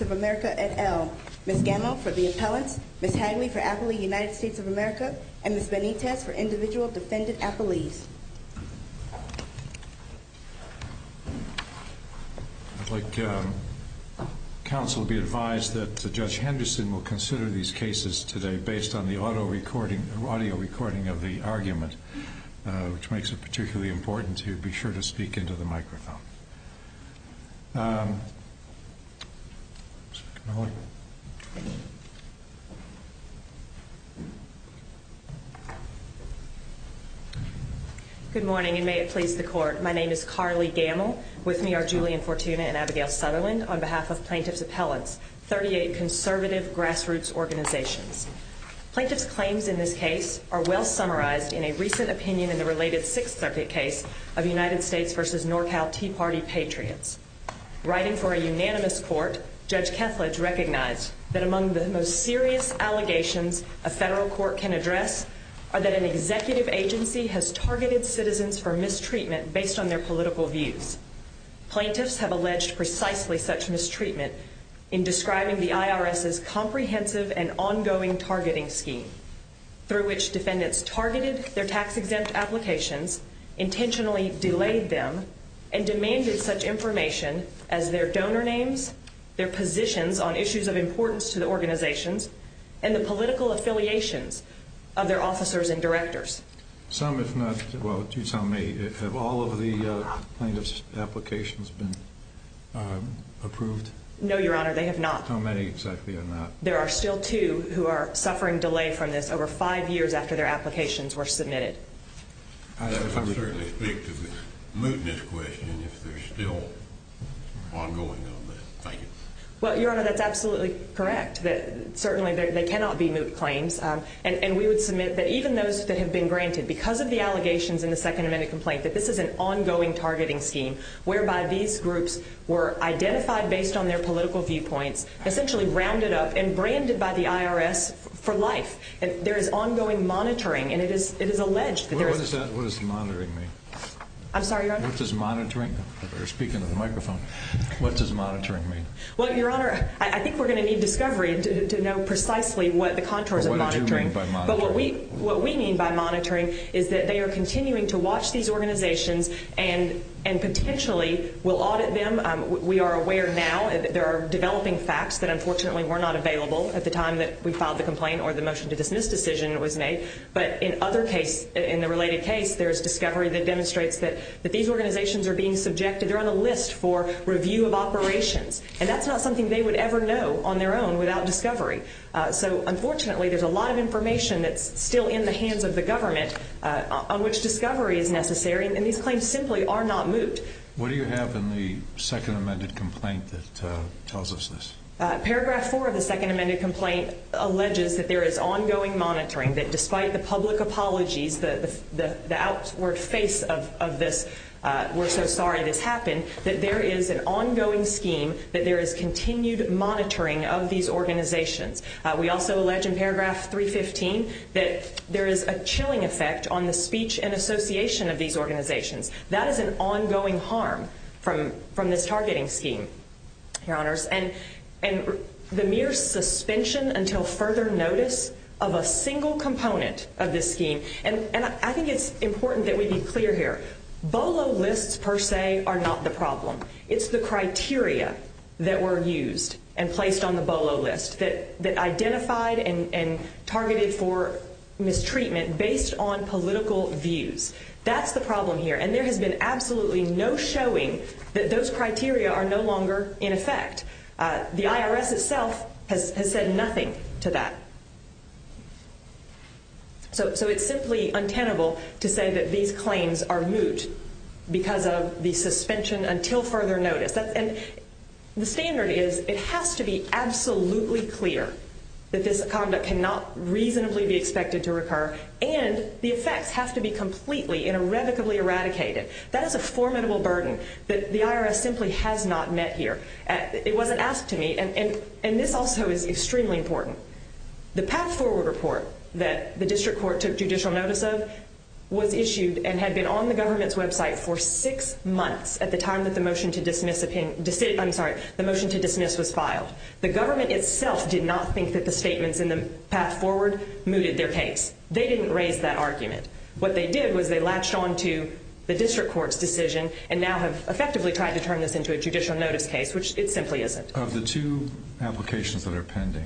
of America, et al. Ms. Gamow for the appellants, Ms. Hagley for Appley United States of America, and Ms. Benitez for individual defendant Appleys. I'd like counsel to be advised that Judge Henderson will consider these cases today based on the audio recording of the argument, which makes it particularly important to be sure to speak into the microphone. Good morning, and may it please the Court. My name is Carly Gamow. With me are Julian Fortuna and Abigail Sutherland on behalf of Plaintiff's Appellants, 38 conservative grassroots organizations. Plaintiff's claims in this case are well summarized in a recent opinion in the related Sixth Circuit case of United States v. NorCal Tea Party Patriots. Writing for a unanimous court, Judge Kethledge recognized that among the most serious allegations a federal court can address are that an executive agency has targeted citizens for mistreatment based on their political views. Plaintiffs have alleged precisely such mistreatment in an ongoing targeting scheme, through which defendants targeted their tax-exempt applications, intentionally delayed them, and demanded such information as their donor names, their positions on issues of importance to the organizations, and the political affiliations of their officers and directors. Some, if not all of the plaintiffs' applications have been approved? No, Your Honor, there are two who are suffering delay from this over five years after their applications were submitted. I would certainly speak to the mootness question, if there's still ongoing on that. Thank you. Well, Your Honor, that's absolutely correct. Certainly, they cannot be moot claims. And we would submit that even those that have been granted, because of the allegations in the Second Amendment complaint, that this is an ongoing targeting scheme, whereby these groups were identified based on their political viewpoints, essentially rounded up and branded by the IRS for life. There is ongoing monitoring, and it is alleged that there is... What does monitoring mean? I'm sorry, Your Honor? What does monitoring, speaking to the microphone, what does monitoring mean? Well, Your Honor, I think we're going to need discovery to know precisely what the contours of monitoring... What do you mean by monitoring? What we mean by monitoring is that they are continuing to watch these organizations and potentially will audit them. We are aware now, there are developing facts that unfortunately were not available at the time that we filed the complaint or the motion to dismiss decision was made. But in other case, in the related case, there's discovery that demonstrates that these organizations are being subjected, they're on the list for review of operations. And that's not something they would ever know on their own without discovery. So unfortunately, there's a lot of information that's still in the hands of the government on which discovery is necessary. And these claims simply are not moot. What do you have in the second amended complaint that tells us this? Paragraph four of the second amended complaint alleges that there is ongoing monitoring, that despite the public apologies, the outward face of this, we're so sorry this happened, that there is an ongoing scheme, that there is continued monitoring of these organizations. We also allege in paragraph 315 that there is a chilling effect on the speech and association of these organizations. That is an ongoing harm from this targeting scheme, your honors. And the mere suspension until further notice of a single component of this scheme, and I think it's important that we be clear here, BOLO lists per se are not the problem. It's the criteria that were used and placed on the BOLO list that identified and targeted for mistreatment based on political views. That's the problem here. And there has been absolutely no showing that those criteria are no longer in effect. The IRS itself has said nothing to that. So it's simply untenable to say that these claims are moot because of the suspension until further notice. And the standard is it has to be absolutely clear that this conduct cannot reasonably be expected to recur, and the effects have to be completely and irrevocably eradicated. That is a formidable burden that the IRS simply has not met here. It wasn't asked to me, and this also is extremely important. The path forward report that the district court took judicial notice of was issued and had been on the government's website for six months at the time that the motion to dismiss was filed. The government itself did not think that the statements in the path forward mooted their case. They didn't raise that argument. What they did was they latched on to the district court's decision and now have effectively tried to turn this into a judicial notice case, which it simply isn't. Of the two applications that are pending,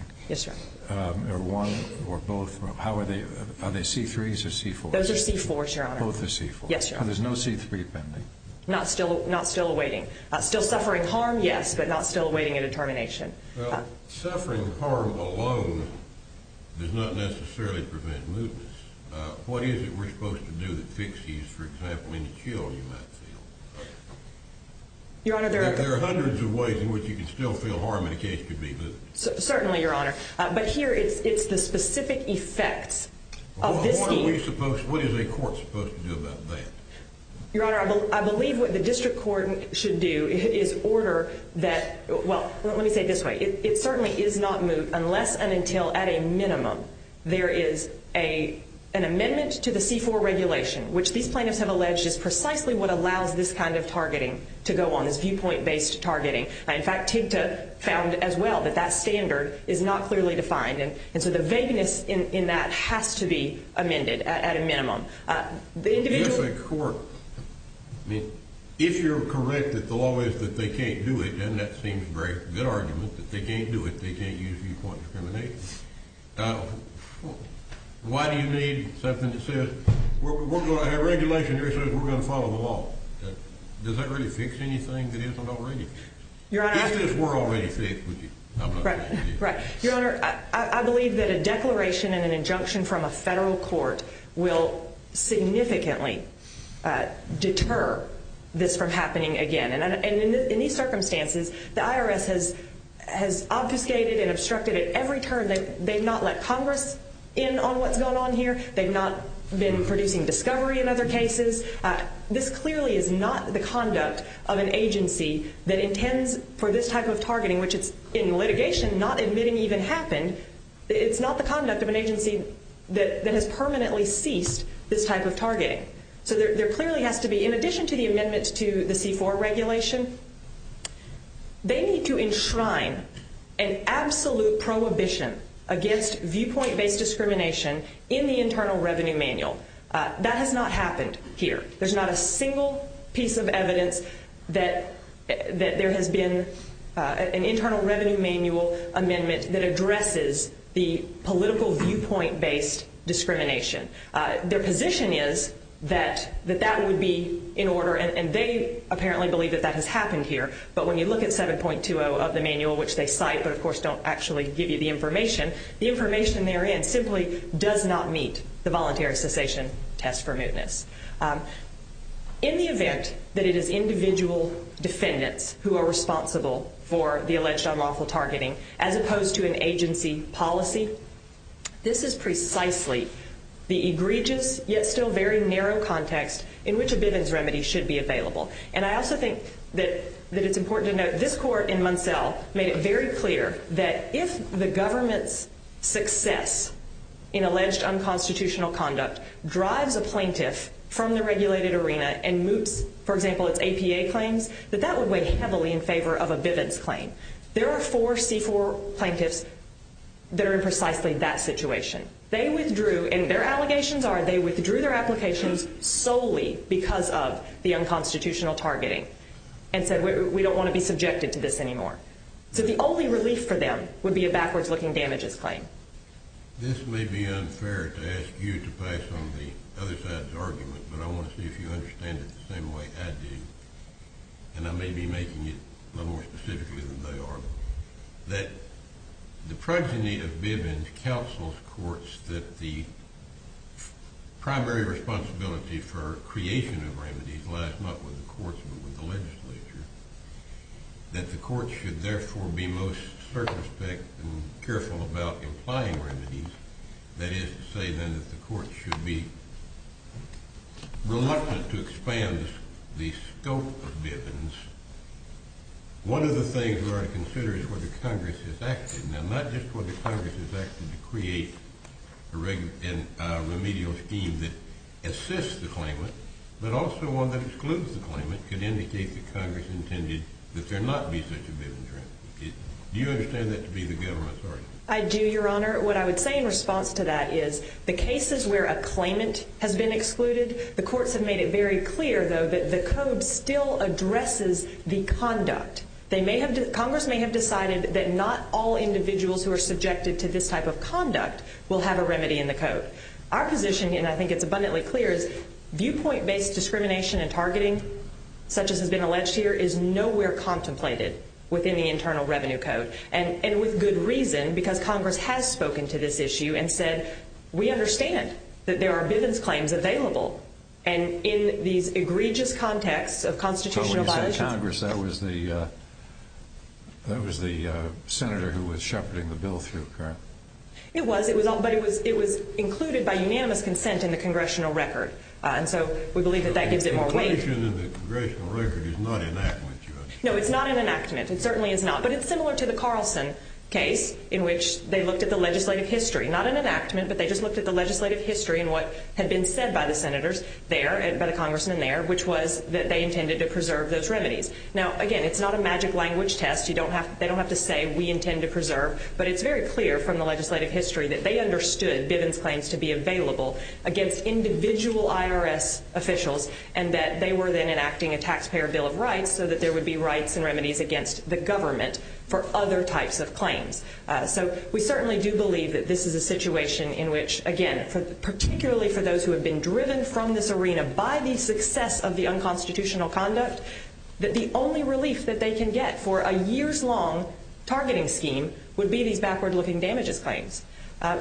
one or both, are they C-3s or C-4s? Those are C-4s, Your Honor. Both are C-4s. Yes, Your Honor. So there's no C-3 pending? Not still awaiting. Still suffering harm, yes, but not still awaiting a determination. Well, suffering harm alone does not necessarily prevent mootness. What is it we're supposed to do that fixes, for example, any chill you might feel? Your Honor, there are... There are hundreds of ways in which you can still feel harm in a case could be moot. Certainly, Your Honor, but here it's the specific effects of this... What are we supposed... what is a court supposed to do about that? Your Honor, I believe what the district court should do is order that... well, let me say it this way. It certainly is not moot unless and until, at a minimum, there is an amendment to the C-4 regulation, which these plaintiffs have alleged is precisely what allows this kind of targeting to go on, this viewpoint-based targeting. In fact, TIGTA found as well that that standard is not clearly defined, and so the vagueness in that has to be amended at a minimum. The individual... I mean, if you're correct that the law is that they can't do it, then that seems a very good argument, that they can't do it, they can't use viewpoint discrimination. Why do you need something that says... our regulation here says we're going to follow the law. Does that really fix anything that isn't already? Your Honor, I... If this were already fixed, would you... Right. Your Honor, I believe that a declaration and an injunction from a federal court will significantly deter this from happening again. And in these circumstances, the IRS has obfuscated and obstructed at every turn. They've not let Congress in on what's going on here. They've not been producing discovery in other cases. This clearly is not the conduct of an agency that intends for this type of targeting, which it's in litigation not admitting even happened. It's not the conduct of an agency that has permanently ceased this type of targeting. So there clearly has to be, in addition to the amendments to the C-4 regulation, they need to enshrine an absolute prohibition against viewpoint-based discrimination in the Internal Revenue Manual. That has not happened here. There's not a single piece of evidence that there has been an Internal Revenue Manual amendment that addresses the political viewpoint-based discrimination. Their position is that that would be in order, and they apparently believe that that has happened here. But when you look at 7.20 of the manual, which they cite, but of course don't actually give you the information, the information therein simply does not meet the voluntary cessation test for mootness. In the event that it is individual defendants who are responsible for the alleged unlawful targeting, as opposed to an agency policy, this is precisely the egregious yet still very narrow context in which a Bivens remedy should be available. And I also think that it's important to note this court in Munsell made it very clear that if the government's unconstitutional conduct drives a plaintiff from the regulated arena and moots, for example, its APA claims, that that would weigh heavily in favor of a Bivens claim. There are four C-4 plaintiffs that are in precisely that situation. They withdrew, and their allegations are they withdrew their applications solely because of the unconstitutional targeting and said, we don't want to be subjected to this anymore. So the only relief for them would be a backwards-looking damages claim. This may be unfair to ask you to pass on the other side's argument, but I want to see if you understand it the same way I do, and I may be making it a little more specifically than they are, that the progeny of Bivens counsels courts that the primary responsibility for creation of remedies lies not with the courts but with the legislature, that the careful about implying remedies, that is to say, then, that the court should be reluctant to expand the scope of Bivens. One of the things we ought to consider is whether Congress has acted. Now, not just whether Congress has acted to create a remedial scheme that assists the claimant, but also one that excludes the claimant could indicate that Congress intended that there not be such a Bivens remedy. Do you understand that to be the government's argument? I do, Your Honor. What I would say in response to that is the cases where a claimant has been excluded, the courts have made it very clear, though, that the code still addresses the conduct. Congress may have decided that not all individuals who are subjected to this type of conduct will have a remedy in the code. Our position, and I think it's abundantly clear, is viewpoint-based discrimination and targeting, such as has been alleged here, is nowhere contemplated within the Internal Revenue Code. And with good reason, because Congress has spoken to this issue and said, we understand that there are Bivens claims available. And in these egregious contexts of constitutional violations... So when you said Congress, that was the senator who was shepherding the bill through, correct? It was. But it was included by unanimous consent in the congressional record. And so we believe that that gives it more weight. But the inclusion in the congressional record is not an enactment, Your Honor. No, it's not an enactment. It certainly is not. But it's similar to the Carlson case in which they looked at the legislative history. Not an enactment, but they just looked at the legislative history and what had been said by the senators there, by the congressman there, which was that they intended to preserve those remedies. Now, again, it's not a magic language test. They don't have to say, we intend to preserve. But it's very clear from the legislative history that they understood Bivens claims to be available against individual IRS officials, and that they were then enacting a taxpayer bill of rights so that there would be rights and remedies against the government for other types of claims. So we certainly do believe that this is a situation in which, again, particularly for those who have been driven from this arena by the success of the unconstitutional conduct, that the only relief that they can get for a years-long targeting scheme would be these backward-looking damages claims.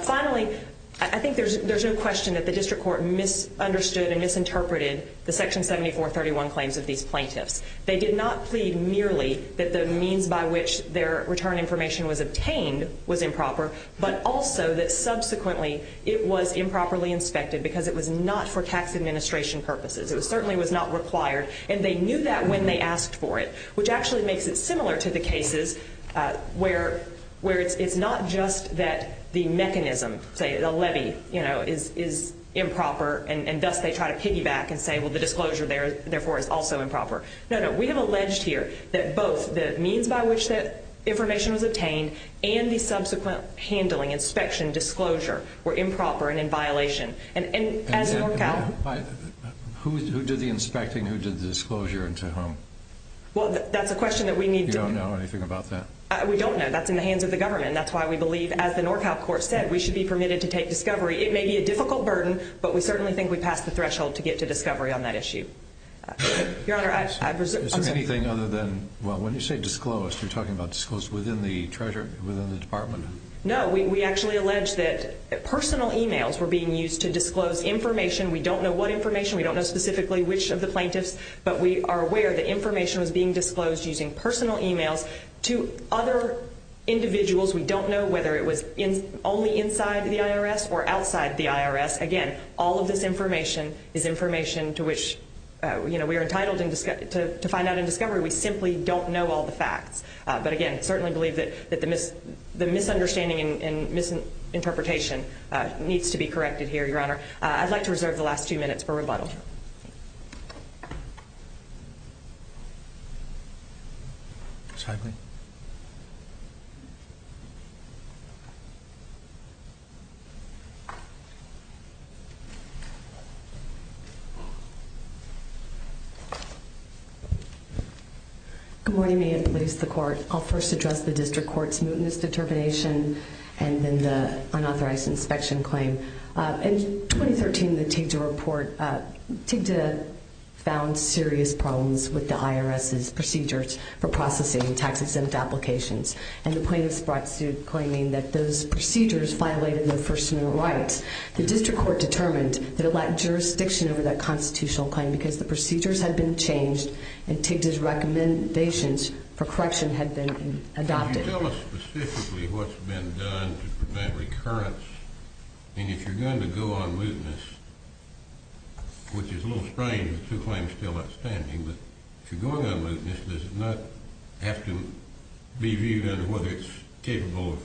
Finally, I think there's no question that the district court misunderstood and misinterpreted the Section 7431 claims of these plaintiffs. They did not plead merely that the means by which their return information was obtained was improper, but also that subsequently it was improperly inspected because it was not for tax administration purposes. It certainly was not required. And they knew that when they asked for it, which actually makes it similar to the cases where it's not just that the mechanism, say the levy, is improper, and thus they try to piggyback and say, well, the disclosure therefore is also improper. No, no. We have alleged here that both the means by which that information was obtained and the subsequent handling, inspection, disclosure, were improper and in violation. And who did the inspecting? Who did the disclosure? And to whom? Well, that's a question that we need to... You don't know anything about that? We don't know. That's in the hands of the government. That's why we believe, as the NorCal court said, we should be permitted to take discovery. It may be a difficult burden, but we certainly think we passed the threshold to get to discovery on that issue. Your Honor, I presume... Is there anything other than, well, when you say disclosed, you're talking about disclosed within the department? No. We actually allege that personal e-mails were being used to disclose information. We don't know what information. We don't know specifically which of the plaintiffs, but we are aware that information was being disclosed using personal e-mails to other individuals. We don't know whether it was only inside the IRS or outside the IRS. Again, all of this information is information to which we are entitled to find out in discovery. We simply don't know all the facts. But again, certainly believe that the misunderstanding and misinterpretation needs to be corrected here, Your Honor. I'd like to reserve the last two minutes for rebuttal. Thank you, Your Honor. Good morning, may it please the Court. I'll first address the District Court's mootness TIGTA found serious problems with the IRS's procedures for processing tax-exempt applications, and the plaintiffs brought suit claiming that those procedures violated their personal rights. The District Court determined that it lacked jurisdiction over that constitutional claim because the procedures had been changed and TIGTA's recommendations for correction had been adopted. Can you tell us specifically what's been done to prevent recurrence? And if you're going to go on mootness, which is a little strange with two claims still outstanding, but if you're going on mootness, does it not have to be viewed under whether it's capable of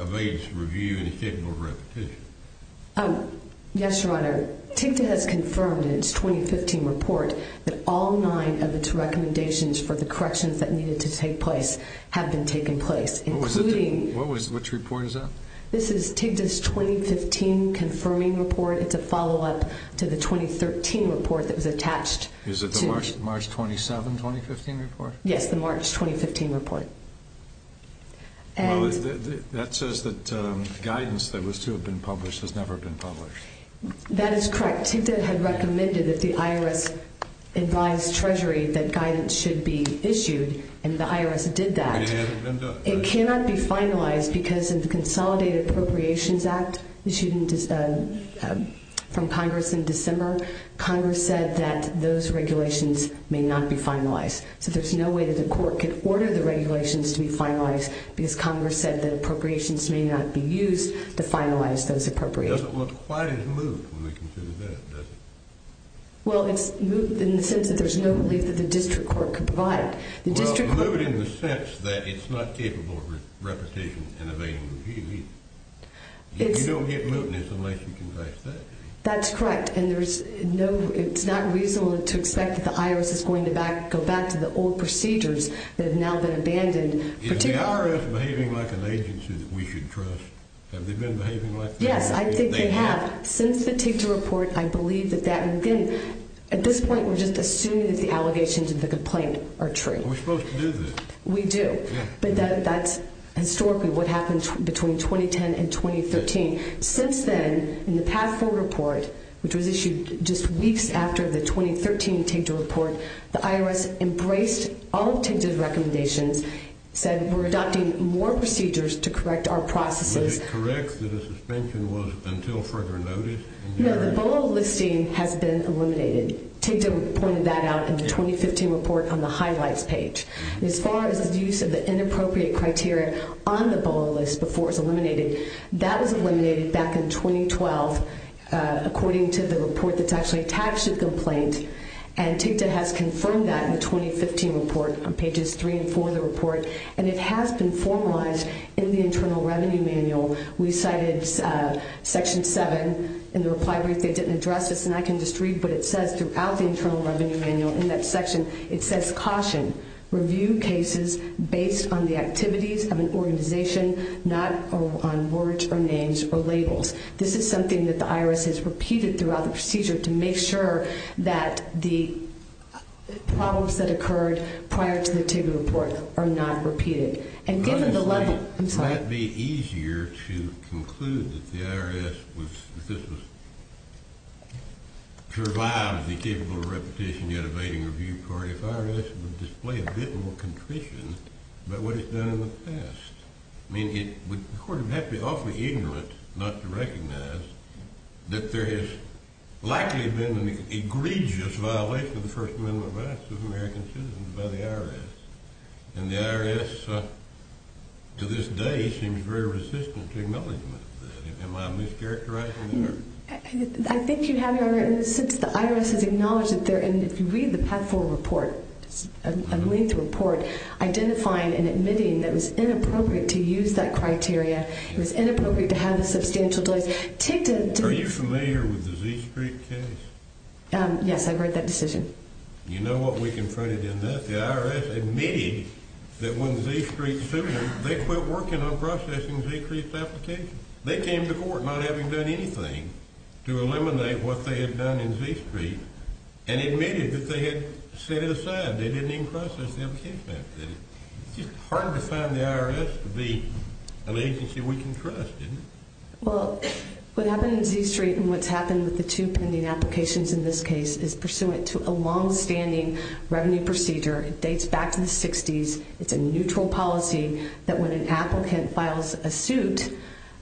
evasive review and it's capable of repetition? Yes, Your Honor. TIGTA has confirmed in its 2015 report that all nine of its recommendations for the corrections that needed to take place have been taken place, including... Which report is that? This is TIGTA's 2015 confirming report. It's a follow-up to the 2013 report that was attached to... Is it the March 27, 2015 report? Yes, the March 2015 report. Well, that says that guidance that was to have been published has never been published. That is correct. TIGTA had recommended that the IRS advise Treasury that guidance should be issued, and the IRS did that. And it hasn't been done? It hasn't been finalized because of the Consolidated Appropriations Act issued from Congress in December. Congress said that those regulations may not be finalized. So there's no way that the court could order the regulations to be finalized because Congress said that appropriations may not be used to finalize those appropriations. It doesn't look quite as moot when we consider that, does it? Well, it's moot in the sense that there's no belief that the district court could provide. Well, it's moot in the sense that it's not capable of repetition and evading review either. You don't get mootness unless you confess that day. That's correct, and it's not reasonable to expect that the IRS is going to go back to the old procedures that have now been abandoned. Is the IRS behaving like an agency that we should trust? Have they been behaving like that? Yes, I think they have. Since the TIGTA report, I believe that that... At this point, we're just assuming that the allegations of the complaint are true. Are we supposed to do this? We do, but that's historically what happened between 2010 and 2013. Since then, in the PATH 4 report, which was issued just weeks after the 2013 TIGTA report, the IRS embraced all of TIGTA's recommendations, said we're adopting more procedures to correct our processes. Was it correct that a suspension was until further notice? No, the BOLO listing has been eliminated. TIGTA pointed that out in the 2015 report on the Highlights page. As far as the use of the inappropriate criteria on the BOLO list before it was eliminated, that was eliminated back in 2012 according to the report that's actually attached to the complaint, and TIGTA has confirmed that in the 2015 report on pages 3 and 4 of the report, and it has been formalized in the Internal Revenue Manual. We cited Section 7 in the reply brief. They didn't address this, and I can just read what it says throughout the Internal Revenue Manual. In that section, it says, caution, review cases based on the activities of an organization, not on words or names or labels. This is something that the IRS has repeated throughout the procedure to make sure that the problems that occurred prior to the TIGTA report are not repeated. Wouldn't it be easier to conclude that the IRS survived the capable repetition yet evading review court if IRS would display a bit more contrition about what it's done in the past? I mean, the court would have to be awfully ignorant not to recognize that there has likely been an egregious violation of the First Amendment rights of American citizens by the IRS, and the IRS, to this day, seems very resistant to acknowledgment of that. Am I mischaracterizing that? I think you have, Your Honor, and since the IRS has acknowledged that there, and if you read the PATH-4 report, a linked report, identifying and admitting that it was inappropriate to use that criteria, it was inappropriate to have the substantial delays, TIGTA did… Are you familiar with the Z Street case? Yes, I've read that decision. You know what we confronted in that? The IRS admitted that when Z Street sued them, they quit working on processing Z Street's applications. They came to court not having done anything to eliminate what they had done in Z Street and admitted that they had set it aside. They didn't even process the application after that. It's just hard to find the IRS to be an agency we can trust, isn't it? Well, what happened in Z Street and what's happened with the two pending applications in this case is pursuant to a longstanding revenue procedure. It dates back to the 60s. It's a neutral policy that when an applicant files a suit,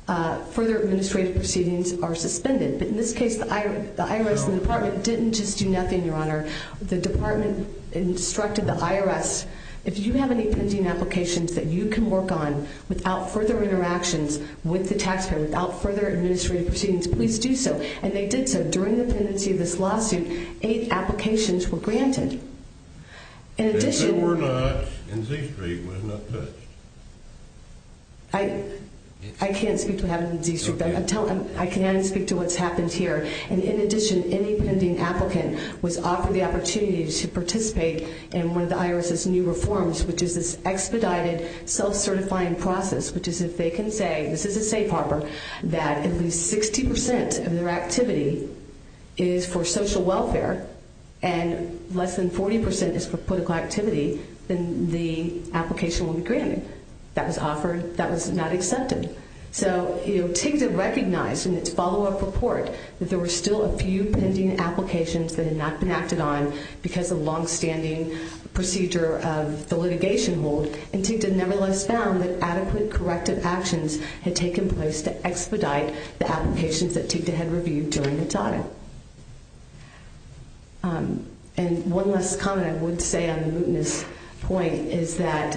further administrative proceedings are suspended. But in this case, the IRS and the Department didn't just do nothing, Your Honor. The Department instructed the IRS, if you have any pending applications that you can work on without further interactions with the taxpayer, without further administrative proceedings, please do so. And they did so. And during the pendency of this lawsuit, eight applications were granted. And if they were not in Z Street, why not touch? I can't speak to what happened in Z Street, but I can speak to what's happened here. And in addition, any pending applicant was offered the opportunity to participate in one of the IRS's new reforms, which is this expedited self-certifying process, which is if they can say, this is a safe harbor, that at least 60% of their activity is for social welfare and less than 40% is for political activity, then the application will be granted. That was offered. That was not accepted. So TIGTA recognized in its follow-up report that there were still a few pending applications that had not been acted on because of longstanding procedure of the litigation hold, and TIGTA nevertheless found that adequate corrective actions had taken place to expedite the applications that TIGTA had reviewed during its audit. And one last comment I would say on the mootness point is that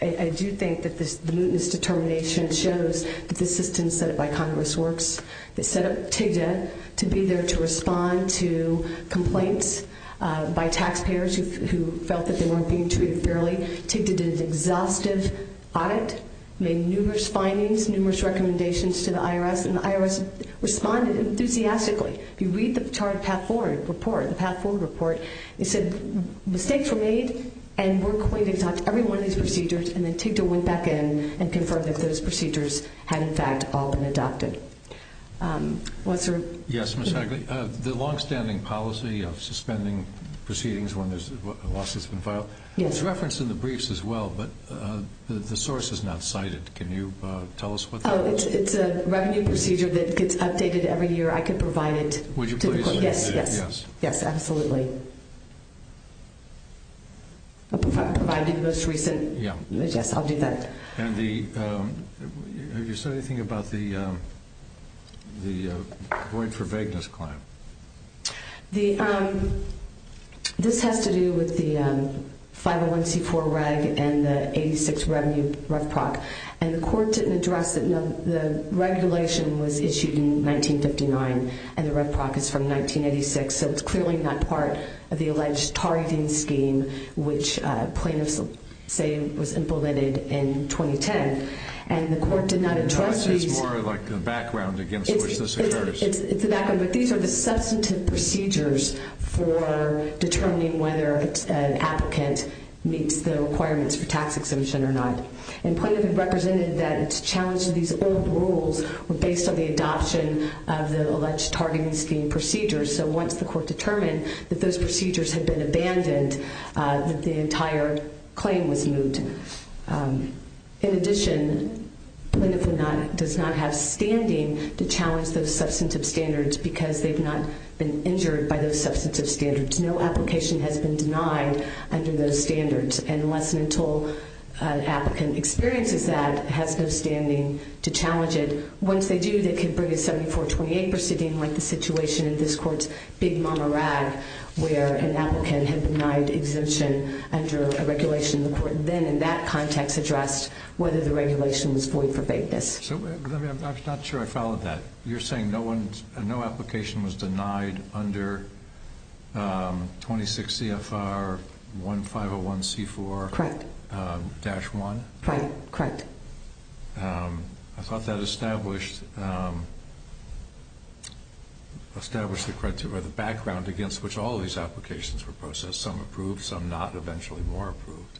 I do think that the mootness determination shows that the system set up by Congress Works that set up TIGTA to be there to respond to complaints by taxpayers who felt that they weren't being treated fairly. TIGTA did an exhaustive audit, made numerous findings, numerous recommendations to the IRS, and the IRS responded enthusiastically. If you read the chart path forward report, the path forward report, it said mistakes were made and we're going to adopt every one of these procedures, and then TIGTA went back in and confirmed that those procedures had, in fact, all been adopted. Yes, Mr. Hagley. The longstanding policy of suspending proceedings when a lawsuit has been filed, it's referenced in the briefs as well, but the source is not cited. Can you tell us what that is? It's a revenue procedure that gets updated every year. I could provide it to the court. Would you please? Yes, yes. Yes, absolutely. Provided the most recent. Yes, I'll do that. And have you said anything about the going for vagueness claim? This has to do with the 501c4 reg and the 86 revenue Ref Proc, and the court didn't address it. The regulation was issued in 1959 and the Ref Proc is from 1986, so it's clearly not part of the alleged targeting scheme which plaintiffs say was implemented in 2010. And the court did not address these. It's more like the background against which this occurs. It's the background, but these are the substantive procedures for determining whether an applicant meets the requirements for tax exemption or not. And plaintiff had represented that it's a challenge to these old rules based on the adoption of the alleged targeting scheme procedures. So once the court determined that those procedures had been abandoned, the entire claim was moved. In addition, plaintiff does not have standing to challenge those substantive standards because they've not been injured by those substantive standards. No application has been denied under those standards. And unless and until an applicant experiences that, has no standing to challenge it. Once they do, they can bring a 7428 proceeding like the situation in this court's big mama rag where an applicant had denied exemption under a regulation. The court then in that context addressed whether the regulation was void for vagueness. I'm not sure I followed that. You're saying no application was denied under 26 CFR 1501C4-1? Correct. I thought that established the background against which all of these applications were processed, some approved, some not, and eventually more approved.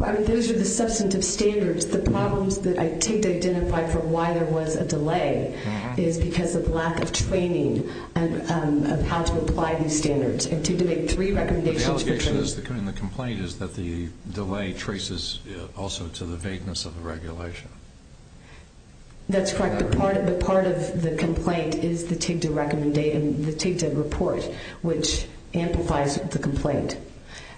Those are the substantive standards. The problems that I take to identify from why there was a delay is because of lack of training of how to apply these standards. I take to make three recommendations for training. And the complaint is that the delay traces also to the vagueness of the regulation. That's correct. But part of the complaint is the TIGTA report, which amplifies the complaint.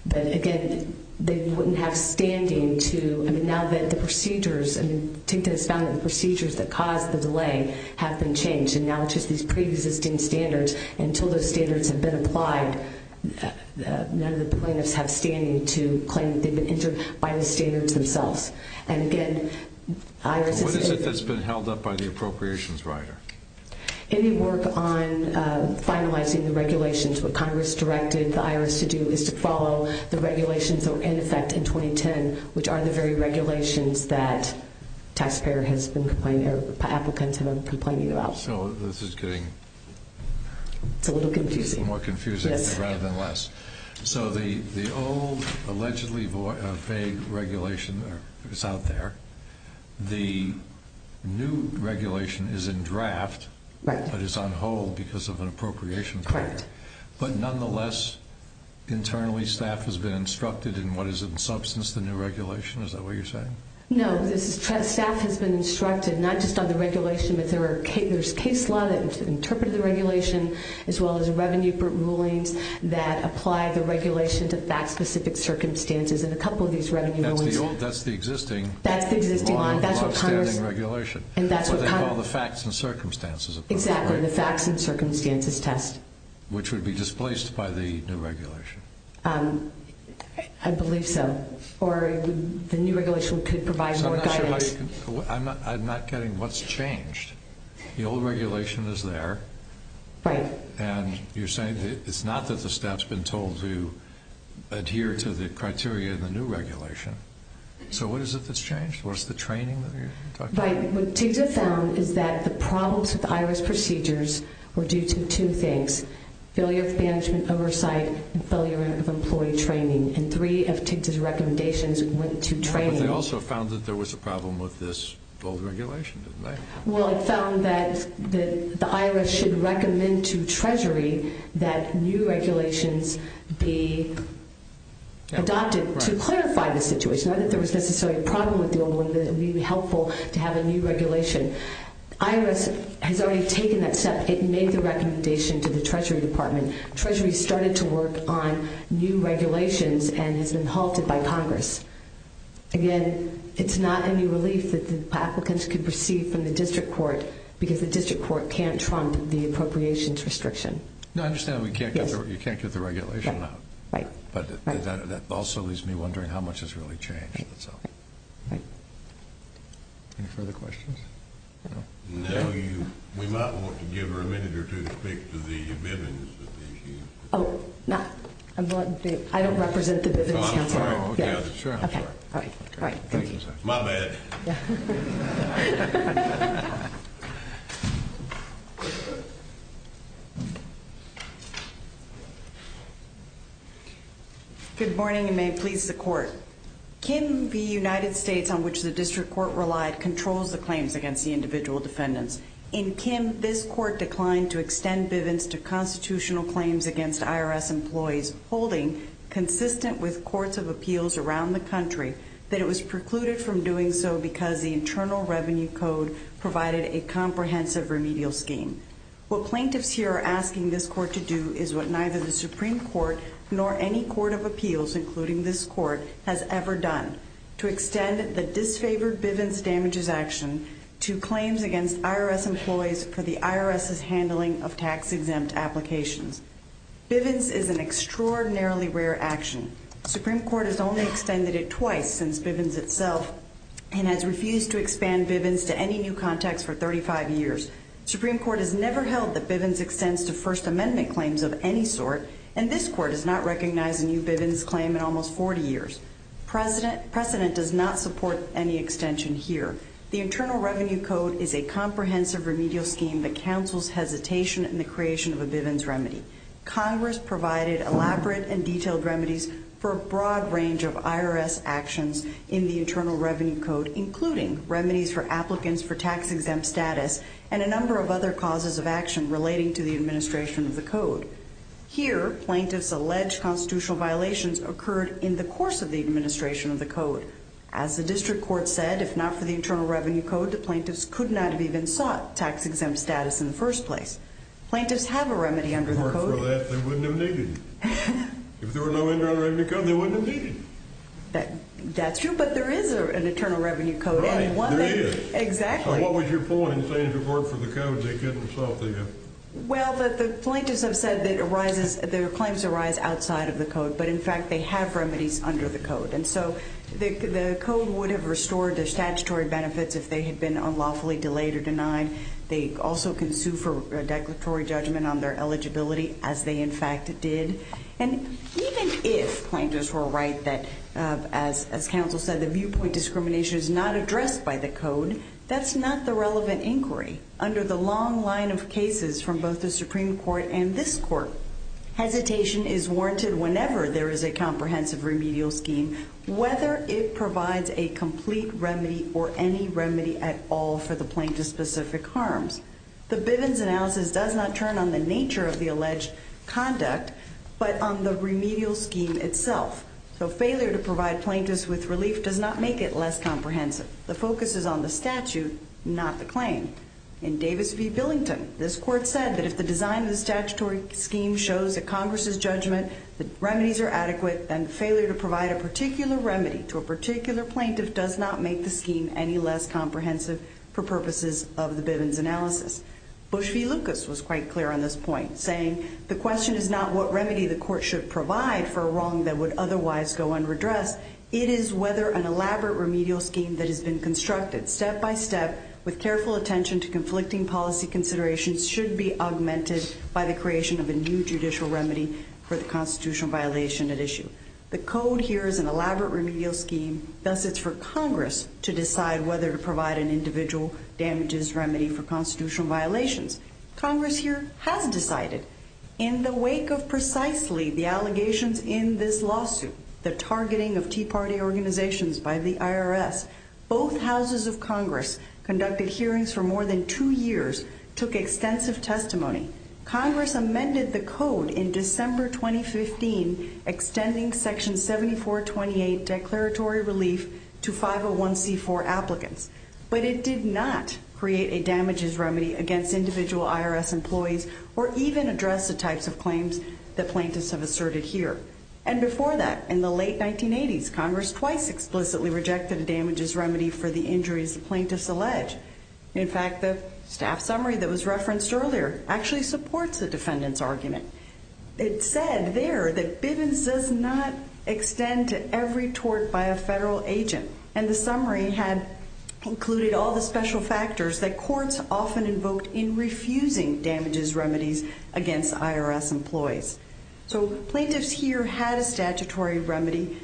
But, again, they wouldn't have standing to, I mean, now that the procedures, I mean, TIGTA has found that the procedures that caused the delay have been changed, and now it's just these preexisting standards. And until those standards have been applied, none of the plaintiffs have standing to claim they've been injured by the standards themselves. And, again, IRS has said that. What is it that's been held up by the appropriations writer? Any work on finalizing the regulations. What Congress directed the IRS to do is to follow the regulations that were in effect in 2010, which are the very regulations that taxpayer has been complaining, or applicants have been complaining about. So this is getting more confusing rather than less. So the old allegedly vague regulation is out there. The new regulation is in draft but is on hold because of an appropriations writer. But, nonetheless, internally staff has been instructed in what is in substance the new regulation. Is that what you're saying? No. Staff has been instructed, not just on the regulation, but there's case law that interpreted the regulation as well as revenue rulings that apply the regulation to fact-specific circumstances. And a couple of these revenue rulings. That's the existing law standing regulation. That's what they call the facts and circumstances. Exactly, the facts and circumstances test. Which would be displaced by the new regulation. I believe so. Or the new regulation could provide more guidance. I'm not getting what's changed. The old regulation is there. Right. And you're saying it's not that the staff's been told to adhere to the criteria in the new regulation. So what is it that's changed? What is the training that you're talking about? Right. What TIGTA found is that the problems with the IRS procedures were due to two things, failure of management oversight and failure of employee training. And three of TIGTA's recommendations went to training. But they also found that there was a problem with this old regulation, didn't they? Well, it found that the IRS should recommend to Treasury that new regulations be adopted to clarify the situation, not that there was necessarily a problem with the old one, but it would be helpful to have a new regulation. IRS has already taken that step. It made the recommendation to the Treasury Department. Treasury started to work on new regulations and has been halted by Congress. Again, it's not any relief that the applicants could proceed from the district court because the district court can't trump the appropriations restriction. No, I understand you can't get the regulation out. Right. But that also leaves me wondering how much has really changed. Right. Any further questions? No. We might want to give her a minute or two to speak to the Bivens. I don't represent the Bivens Council. I'm sorry. All right. Thank you. My bad. Good morning and may it please the Court. Kim, the United States on which the district court relied, controls the claims against the individual defendants. In Kim, this court declined to extend Bivens to constitutional claims against IRS employees, holding, consistent with courts of appeals around the country, that it was precluded from doing so because the Internal Revenue Code provided a comprehensive remedial scheme. What plaintiffs here are asking this court to do is what neither the Supreme Court nor any court of appeals, including this court, has ever done, to extend the disfavored Bivens damages action to claims against IRS employees for the IRS's handling of tax-exempt applications. Bivens is an extraordinarily rare action. The Supreme Court has only extended it twice since Bivens itself and has refused to expand Bivens to any new context for 35 years. The Supreme Court has never held that Bivens extends to First Amendment claims of any sort, and this court has not recognized a new Bivens claim in almost 40 years. Precedent does not support any extension here. The Internal Revenue Code is a comprehensive remedial scheme that counsels hesitation in the creation of a Bivens remedy. Congress provided elaborate and detailed remedies for a broad range of IRS actions in the Internal Revenue Code, including remedies for applicants for tax-exempt status and a number of other causes of action relating to the administration of the code. Here, plaintiffs' alleged constitutional violations occurred in the course of the administration of the code. As the district court said, if not for the Internal Revenue Code, the plaintiffs could not have even sought tax-exempt status in the first place. Plaintiffs have a remedy under the code. If it weren't for that, they wouldn't have needed it. If there were no Internal Revenue Code, they wouldn't have needed it. That's true, but there is an Internal Revenue Code. Right, there is. Exactly. So what was your point in saying if it weren't for the code, they couldn't have sought it? Well, the plaintiffs have said that their claims arise outside of the code, but, in fact, they have remedies under the code. And so the code would have restored their statutory benefits if they had been unlawfully delayed or denied. They also can sue for a declaratory judgment on their eligibility, as they, in fact, did. And even if plaintiffs were right that, as counsel said, the viewpoint discrimination is not addressed by the code, that's not the relevant inquiry. Under the long line of cases from both the Supreme Court and this Court, hesitation is warranted whenever there is a comprehensive remedial scheme, whether it provides a complete remedy or any remedy at all for the plaintiff's specific harms. The Bivens analysis does not turn on the nature of the alleged conduct, but on the remedial scheme itself. So failure to provide plaintiffs with relief does not make it less comprehensive. The focus is on the statute, not the claim. In Davis v. Billington, this Court said that if the design of the statutory scheme shows that Congress's judgment that remedies are adequate, then failure to provide a particular remedy to a particular plaintiff does not make the scheme any less comprehensive for purposes of the Bivens analysis. Bush v. Lucas was quite clear on this point, saying, the question is not what remedy the Court should provide for a wrong that would otherwise go unredressed. It is whether an elaborate remedial scheme that has been constructed step by step with careful attention to conflicting policy considerations should be augmented by the creation of a new judicial remedy for the constitutional violation at issue. The code here is an elaborate remedial scheme, thus it's for Congress to decide whether to provide an individual damages remedy for constitutional violations. Congress here has decided. In the wake of precisely the allegations in this lawsuit, the targeting of Tea Party organizations by the IRS, both houses of Congress conducted hearings for more than two years, took extensive testimony. Congress amended the code in December 2015, extending Section 7428 declaratory relief to 501c4 applicants. But it did not create a damages remedy against individual IRS employees or even address the types of claims that plaintiffs have asserted here. And before that, in the late 1980s, Congress twice explicitly rejected a damages remedy for the injuries the plaintiffs allege. In fact, the staff summary that was referenced earlier actually supports the defendant's argument. It said there that Bivens does not extend to every tort by a federal agent. And the summary had included all the special factors that courts often invoked in refusing damages remedies against IRS employees. So plaintiffs here had a statutory remedy,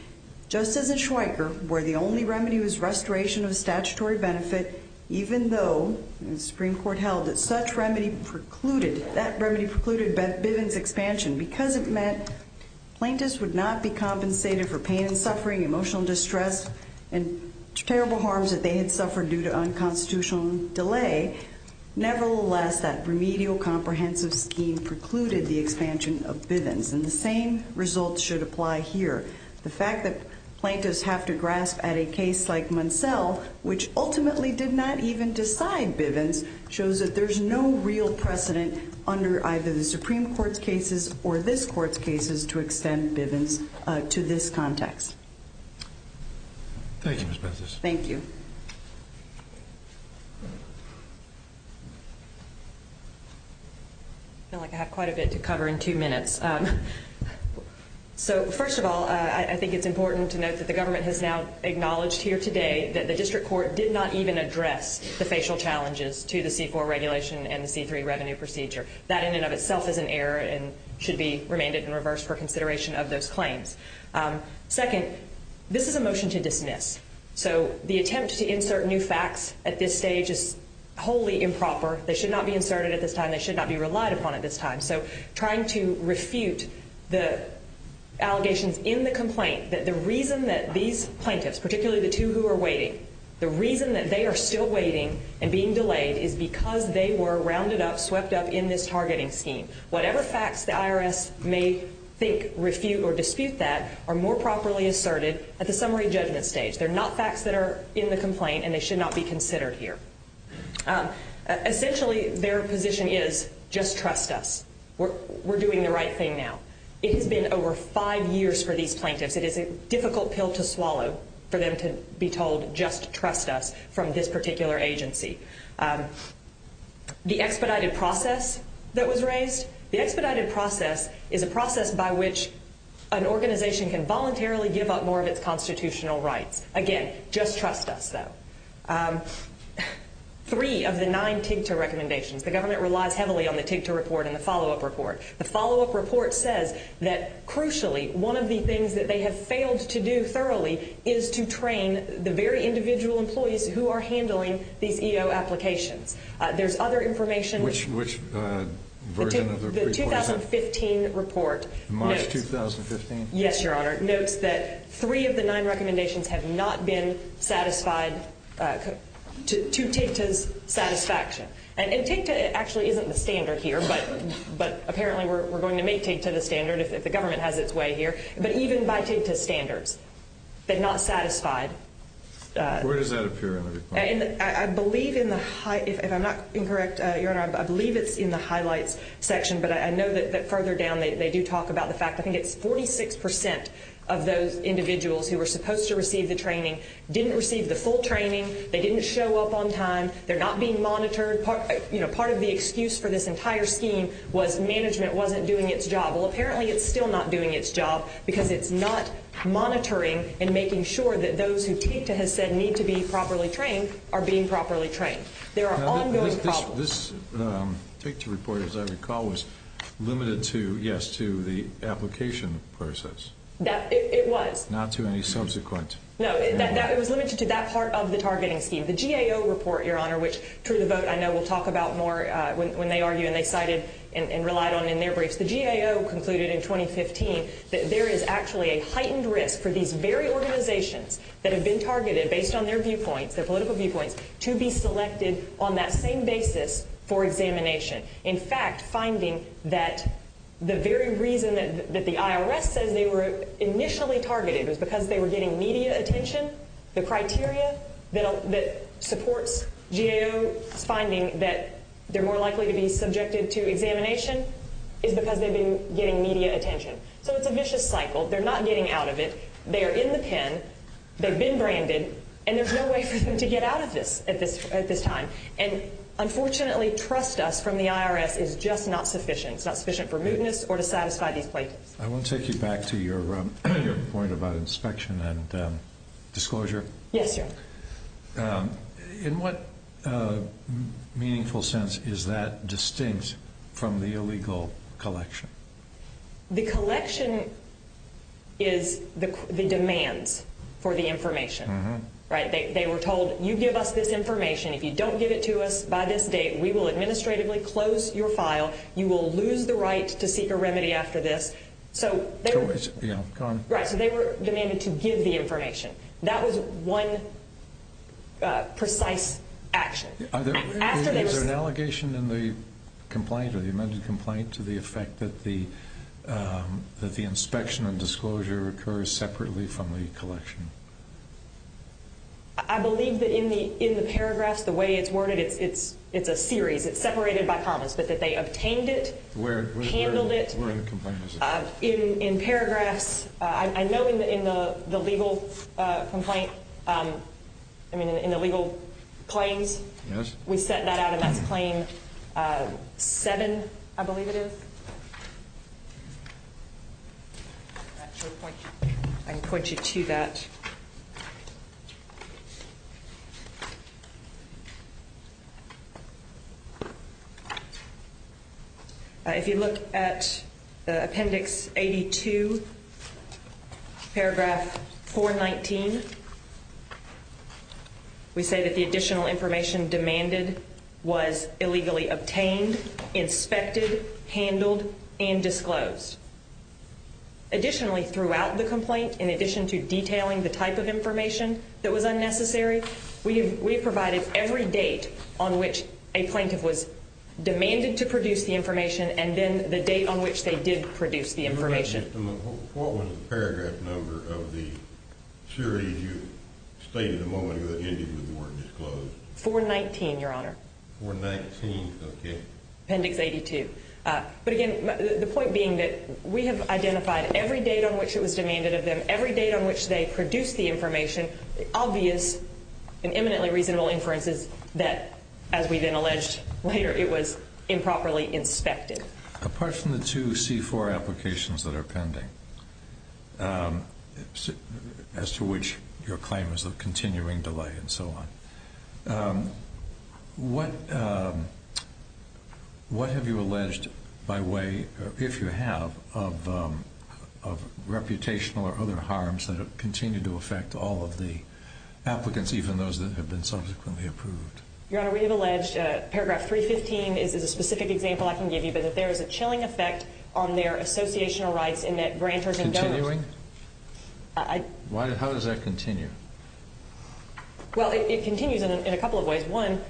just as in Schweiker, where the only remedy was restoration of a statutory benefit, even though the Supreme Court held that such remedy precluded Bivens' expansion because it meant plaintiffs would not be compensated for pain and suffering, emotional distress, and terrible harms that they had suffered due to unconstitutional delay. Nevertheless, that remedial comprehensive scheme precluded the expansion of Bivens, and the same results should apply here. The fact that plaintiffs have to grasp at a case like Munsell, which ultimately did not even decide Bivens, shows that there's no real precedent under either the Supreme Court's cases or this Court's cases to extend Bivens to this context. Thank you, Ms. Bethis. Thank you. I feel like I have quite a bit to cover in two minutes. So first of all, I think it's important to note that the government has now acknowledged here today that the district court did not even address the facial challenges to the C-4 regulation and the C-3 revenue procedure. That in and of itself is an error and should be remanded in reverse for consideration of those claims. Second, this is a motion to dismiss. So the attempt to insert new facts at this stage is wholly improper. They should not be inserted at this time. They should not be relied upon at this time. So trying to refute the allegations in the complaint that the reason that these plaintiffs, particularly the two who are waiting, the reason that they are still waiting and being delayed is because they were rounded up, swept up in this targeting scheme. Whatever facts the IRS may think, refute, or dispute that are more properly asserted at the summary judgment stage. They're not facts that are in the complaint, and they should not be considered here. Essentially, their position is just trust us. We're doing the right thing now. It has been over five years for these plaintiffs. It is a difficult pill to swallow for them to be told just trust us from this particular agency. The expedited process that was raised, the expedited process is a process by which an organization can voluntarily give up more of its constitutional rights. Again, just trust us, though. Three of the nine TIGTA recommendations, the government relies heavily on the TIGTA report and the follow-up report. The follow-up report says that, crucially, one of the things that they have failed to do thoroughly is to train the very individual employees who are handling these EO applications. There's other information. Which version of the report is that? The 2015 report. March 2015? Yes, Your Honor. It notes that three of the nine recommendations have not been satisfied to TIGTA's satisfaction. And TIGTA actually isn't the standard here, but apparently we're going to make TIGTA the standard if the government has its way here. But even by TIGTA's standards, they're not satisfied. Where does that appear in the report? I believe in the high, if I'm not incorrect, Your Honor, I believe it's in the highlights section, but I know that further down they do talk about the fact, I think it's 46% of those individuals who were supposed to receive the training didn't receive the full training. They didn't show up on time. They're not being monitored. Part of the excuse for this entire scheme was management wasn't doing its job. Well, apparently it's still not doing its job because it's not monitoring and making sure that those who TIGTA has said need to be properly trained are being properly trained. There are ongoing problems. This TIGTA report, as I recall, was limited to, yes, to the application process. It was. Not to any subsequent. No, it was limited to that part of the targeting scheme. The GAO report, Your Honor, which through the vote I know we'll talk about more when they argue and they cited and relied on in their briefs. The GAO concluded in 2015 that there is actually a heightened risk for these very organizations that have been targeted based on their viewpoints, their political viewpoints, to be selected on that same basis for examination. In fact, finding that the very reason that the IRS says they were initially targeted was because they were getting media attention. The criteria that supports GAO's finding that they're more likely to be subjected to examination is because they've been getting media attention. So it's a vicious cycle. They're not getting out of it. They are in the pen. They've been branded. And there's no way for them to get out of this at this time. And, unfortunately, trust us from the IRS is just not sufficient. It's not sufficient for mootness or to satisfy these plaintiffs. I want to take you back to your point about inspection and disclosure. Yes, Your Honor. In what meaningful sense is that distinct from the illegal collection? The collection is the demands for the information. They were told, you give us this information. If you don't give it to us by this date, we will administratively close your file. You will lose the right to seek a remedy after this. So they were demanded to give the information. That was one precise action. Is there an allegation in the complaint, or the amended complaint, to the effect that the inspection and disclosure occurs separately from the collection? I believe that in the paragraphs, the way it's worded, it's a series. It's separated by commas, but that they obtained it, handled it. Where in the complaint is it? In paragraphs. I know in the legal complaint, I mean, in the legal claims, we set that out, and that's claim seven, I believe it is. I can point you to that. If you look at Appendix 82, Paragraph 419, we say that the additional information demanded was illegally obtained, inspected, handled, and disclosed. Additionally, throughout the complaint, in addition to detailing the type of information that was unnecessary, we provided every date on which a plaintiff was demanded to produce the information, What was the paragraph number of the series you stated at the moment that ended with the word disclosed? 419, Your Honor. 419, okay. Appendix 82. But again, the point being that we have identified every date on which it was demanded of them, every date on which they produced the information, obvious and eminently reasonable inferences that, as we then alleged later, it was improperly inspected. Apart from the two C-4 applications that are pending, as to which your claim is of continuing delay and so on, what have you alleged by way, if you have, of reputational or other harms that have continued to affect all of the applicants, even those that have been subsequently approved? Your Honor, we have alleged Paragraph 315 is a specific example I can give you, but that there is a chilling effect on their associational rights in that grantors and donors Continuing? How does that continue? Well, it continues in a couple of ways. One,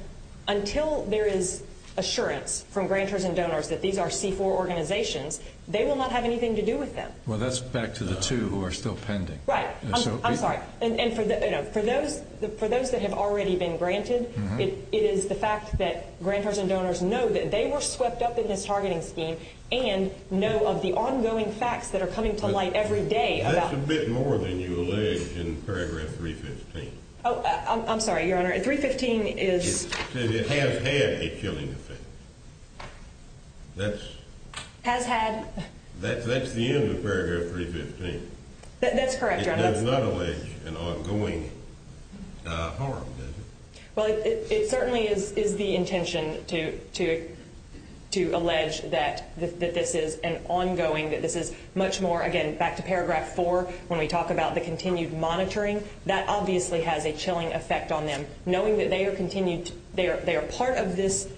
until there is assurance from grantors and donors that these are C-4 organizations, they will not have anything to do with them. Well, that's back to the two who are still pending. Right. I'm sorry. And for those that have already been granted, it is the fact that grantors and donors know that they were swept up in this targeting scheme and know of the ongoing facts that are coming to light every day. That's a bit more than you allege in Paragraph 315. Oh, I'm sorry, Your Honor. 315 is... It has had a chilling effect. That's... Has had... That's the end of Paragraph 315. That's correct, Your Honor. It does not allege an ongoing harm, does it? Well, it certainly is the intention to allege that this is an ongoing, that this is much more, again, back to Paragraph 4, when we talk about the continued monitoring, that obviously has a chilling effect on them, knowing that they are part of this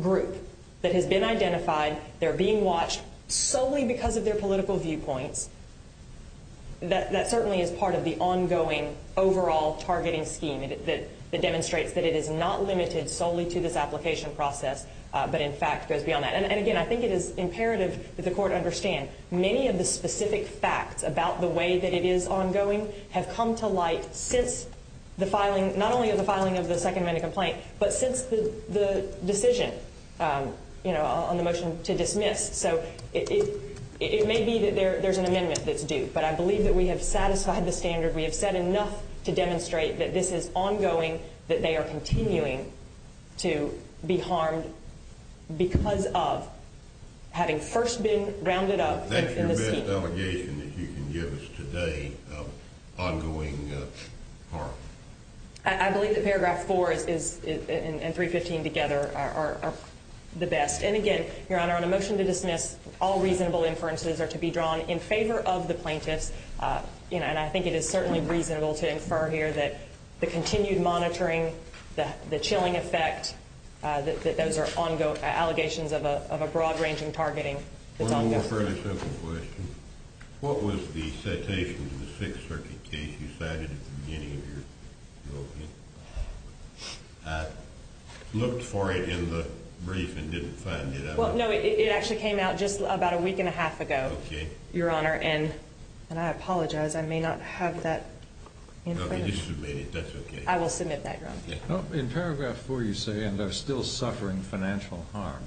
group that has been identified, they're being watched solely because of their political viewpoints. That certainly is part of the ongoing overall targeting scheme that demonstrates that it is not limited solely to this application process, but, in fact, goes beyond that. And, again, I think it is imperative that the Court understand many of the specific facts about the way that it is ongoing have come to light since the filing, not only of the filing of the Second Amendment complaint, but since the decision on the motion to dismiss. So it may be that there's an amendment that's due, but I believe that we have satisfied the standard. We have said enough to demonstrate that this is ongoing, that they are continuing to be harmed because of having first been rounded up in the scheme. Is that your best allegation that you can give us today of ongoing harm? I believe that Paragraph 4 and 315 together are the best. And, again, Your Honor, on a motion to dismiss, all reasonable inferences are to be drawn in favor of the plaintiffs. And I think it is certainly reasonable to infer here that the continued monitoring, the chilling effect, that those are allegations of a broad-ranging targeting. One more fairly simple question. What was the citation to the Sixth Circuit case you cited at the beginning of your opening? I looked for it in the brief and didn't find it. Well, no, it actually came out just about a week and a half ago, Your Honor. And I apologize, I may not have that in front of me. You should have made it. That's okay. I will submit that, Your Honor. In Paragraph 4, you say, and are still suffering financial harm.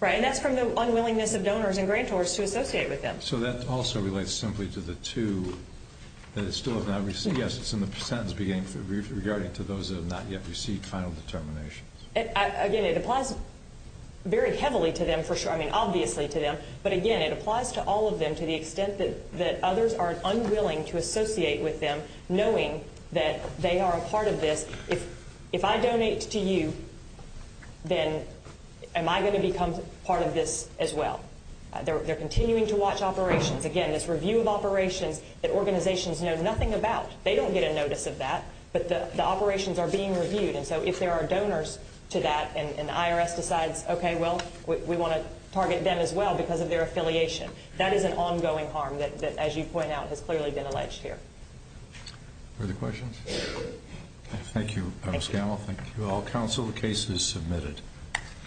Right. And that's from the unwillingness of donors and grantors to associate with them. So that also relates simply to the two that still have not received. I think, yes, it's in the sentence beginning, regarding to those that have not yet received final determinations. Again, it applies very heavily to them, for sure. I mean, obviously to them. But, again, it applies to all of them to the extent that others are unwilling to associate with them knowing that they are a part of this. If I donate to you, then am I going to become part of this as well? They're continuing to watch operations. Again, this review of operations that organizations know nothing about. They don't get a notice of that, but the operations are being reviewed. And so if there are donors to that and the IRS decides, okay, well, we want to target them as well because of their affiliation, that is an ongoing harm that, as you point out, has clearly been alleged here. Further questions? Thank you, Ms. Gamble. Thank you all. Counsel, the case is submitted.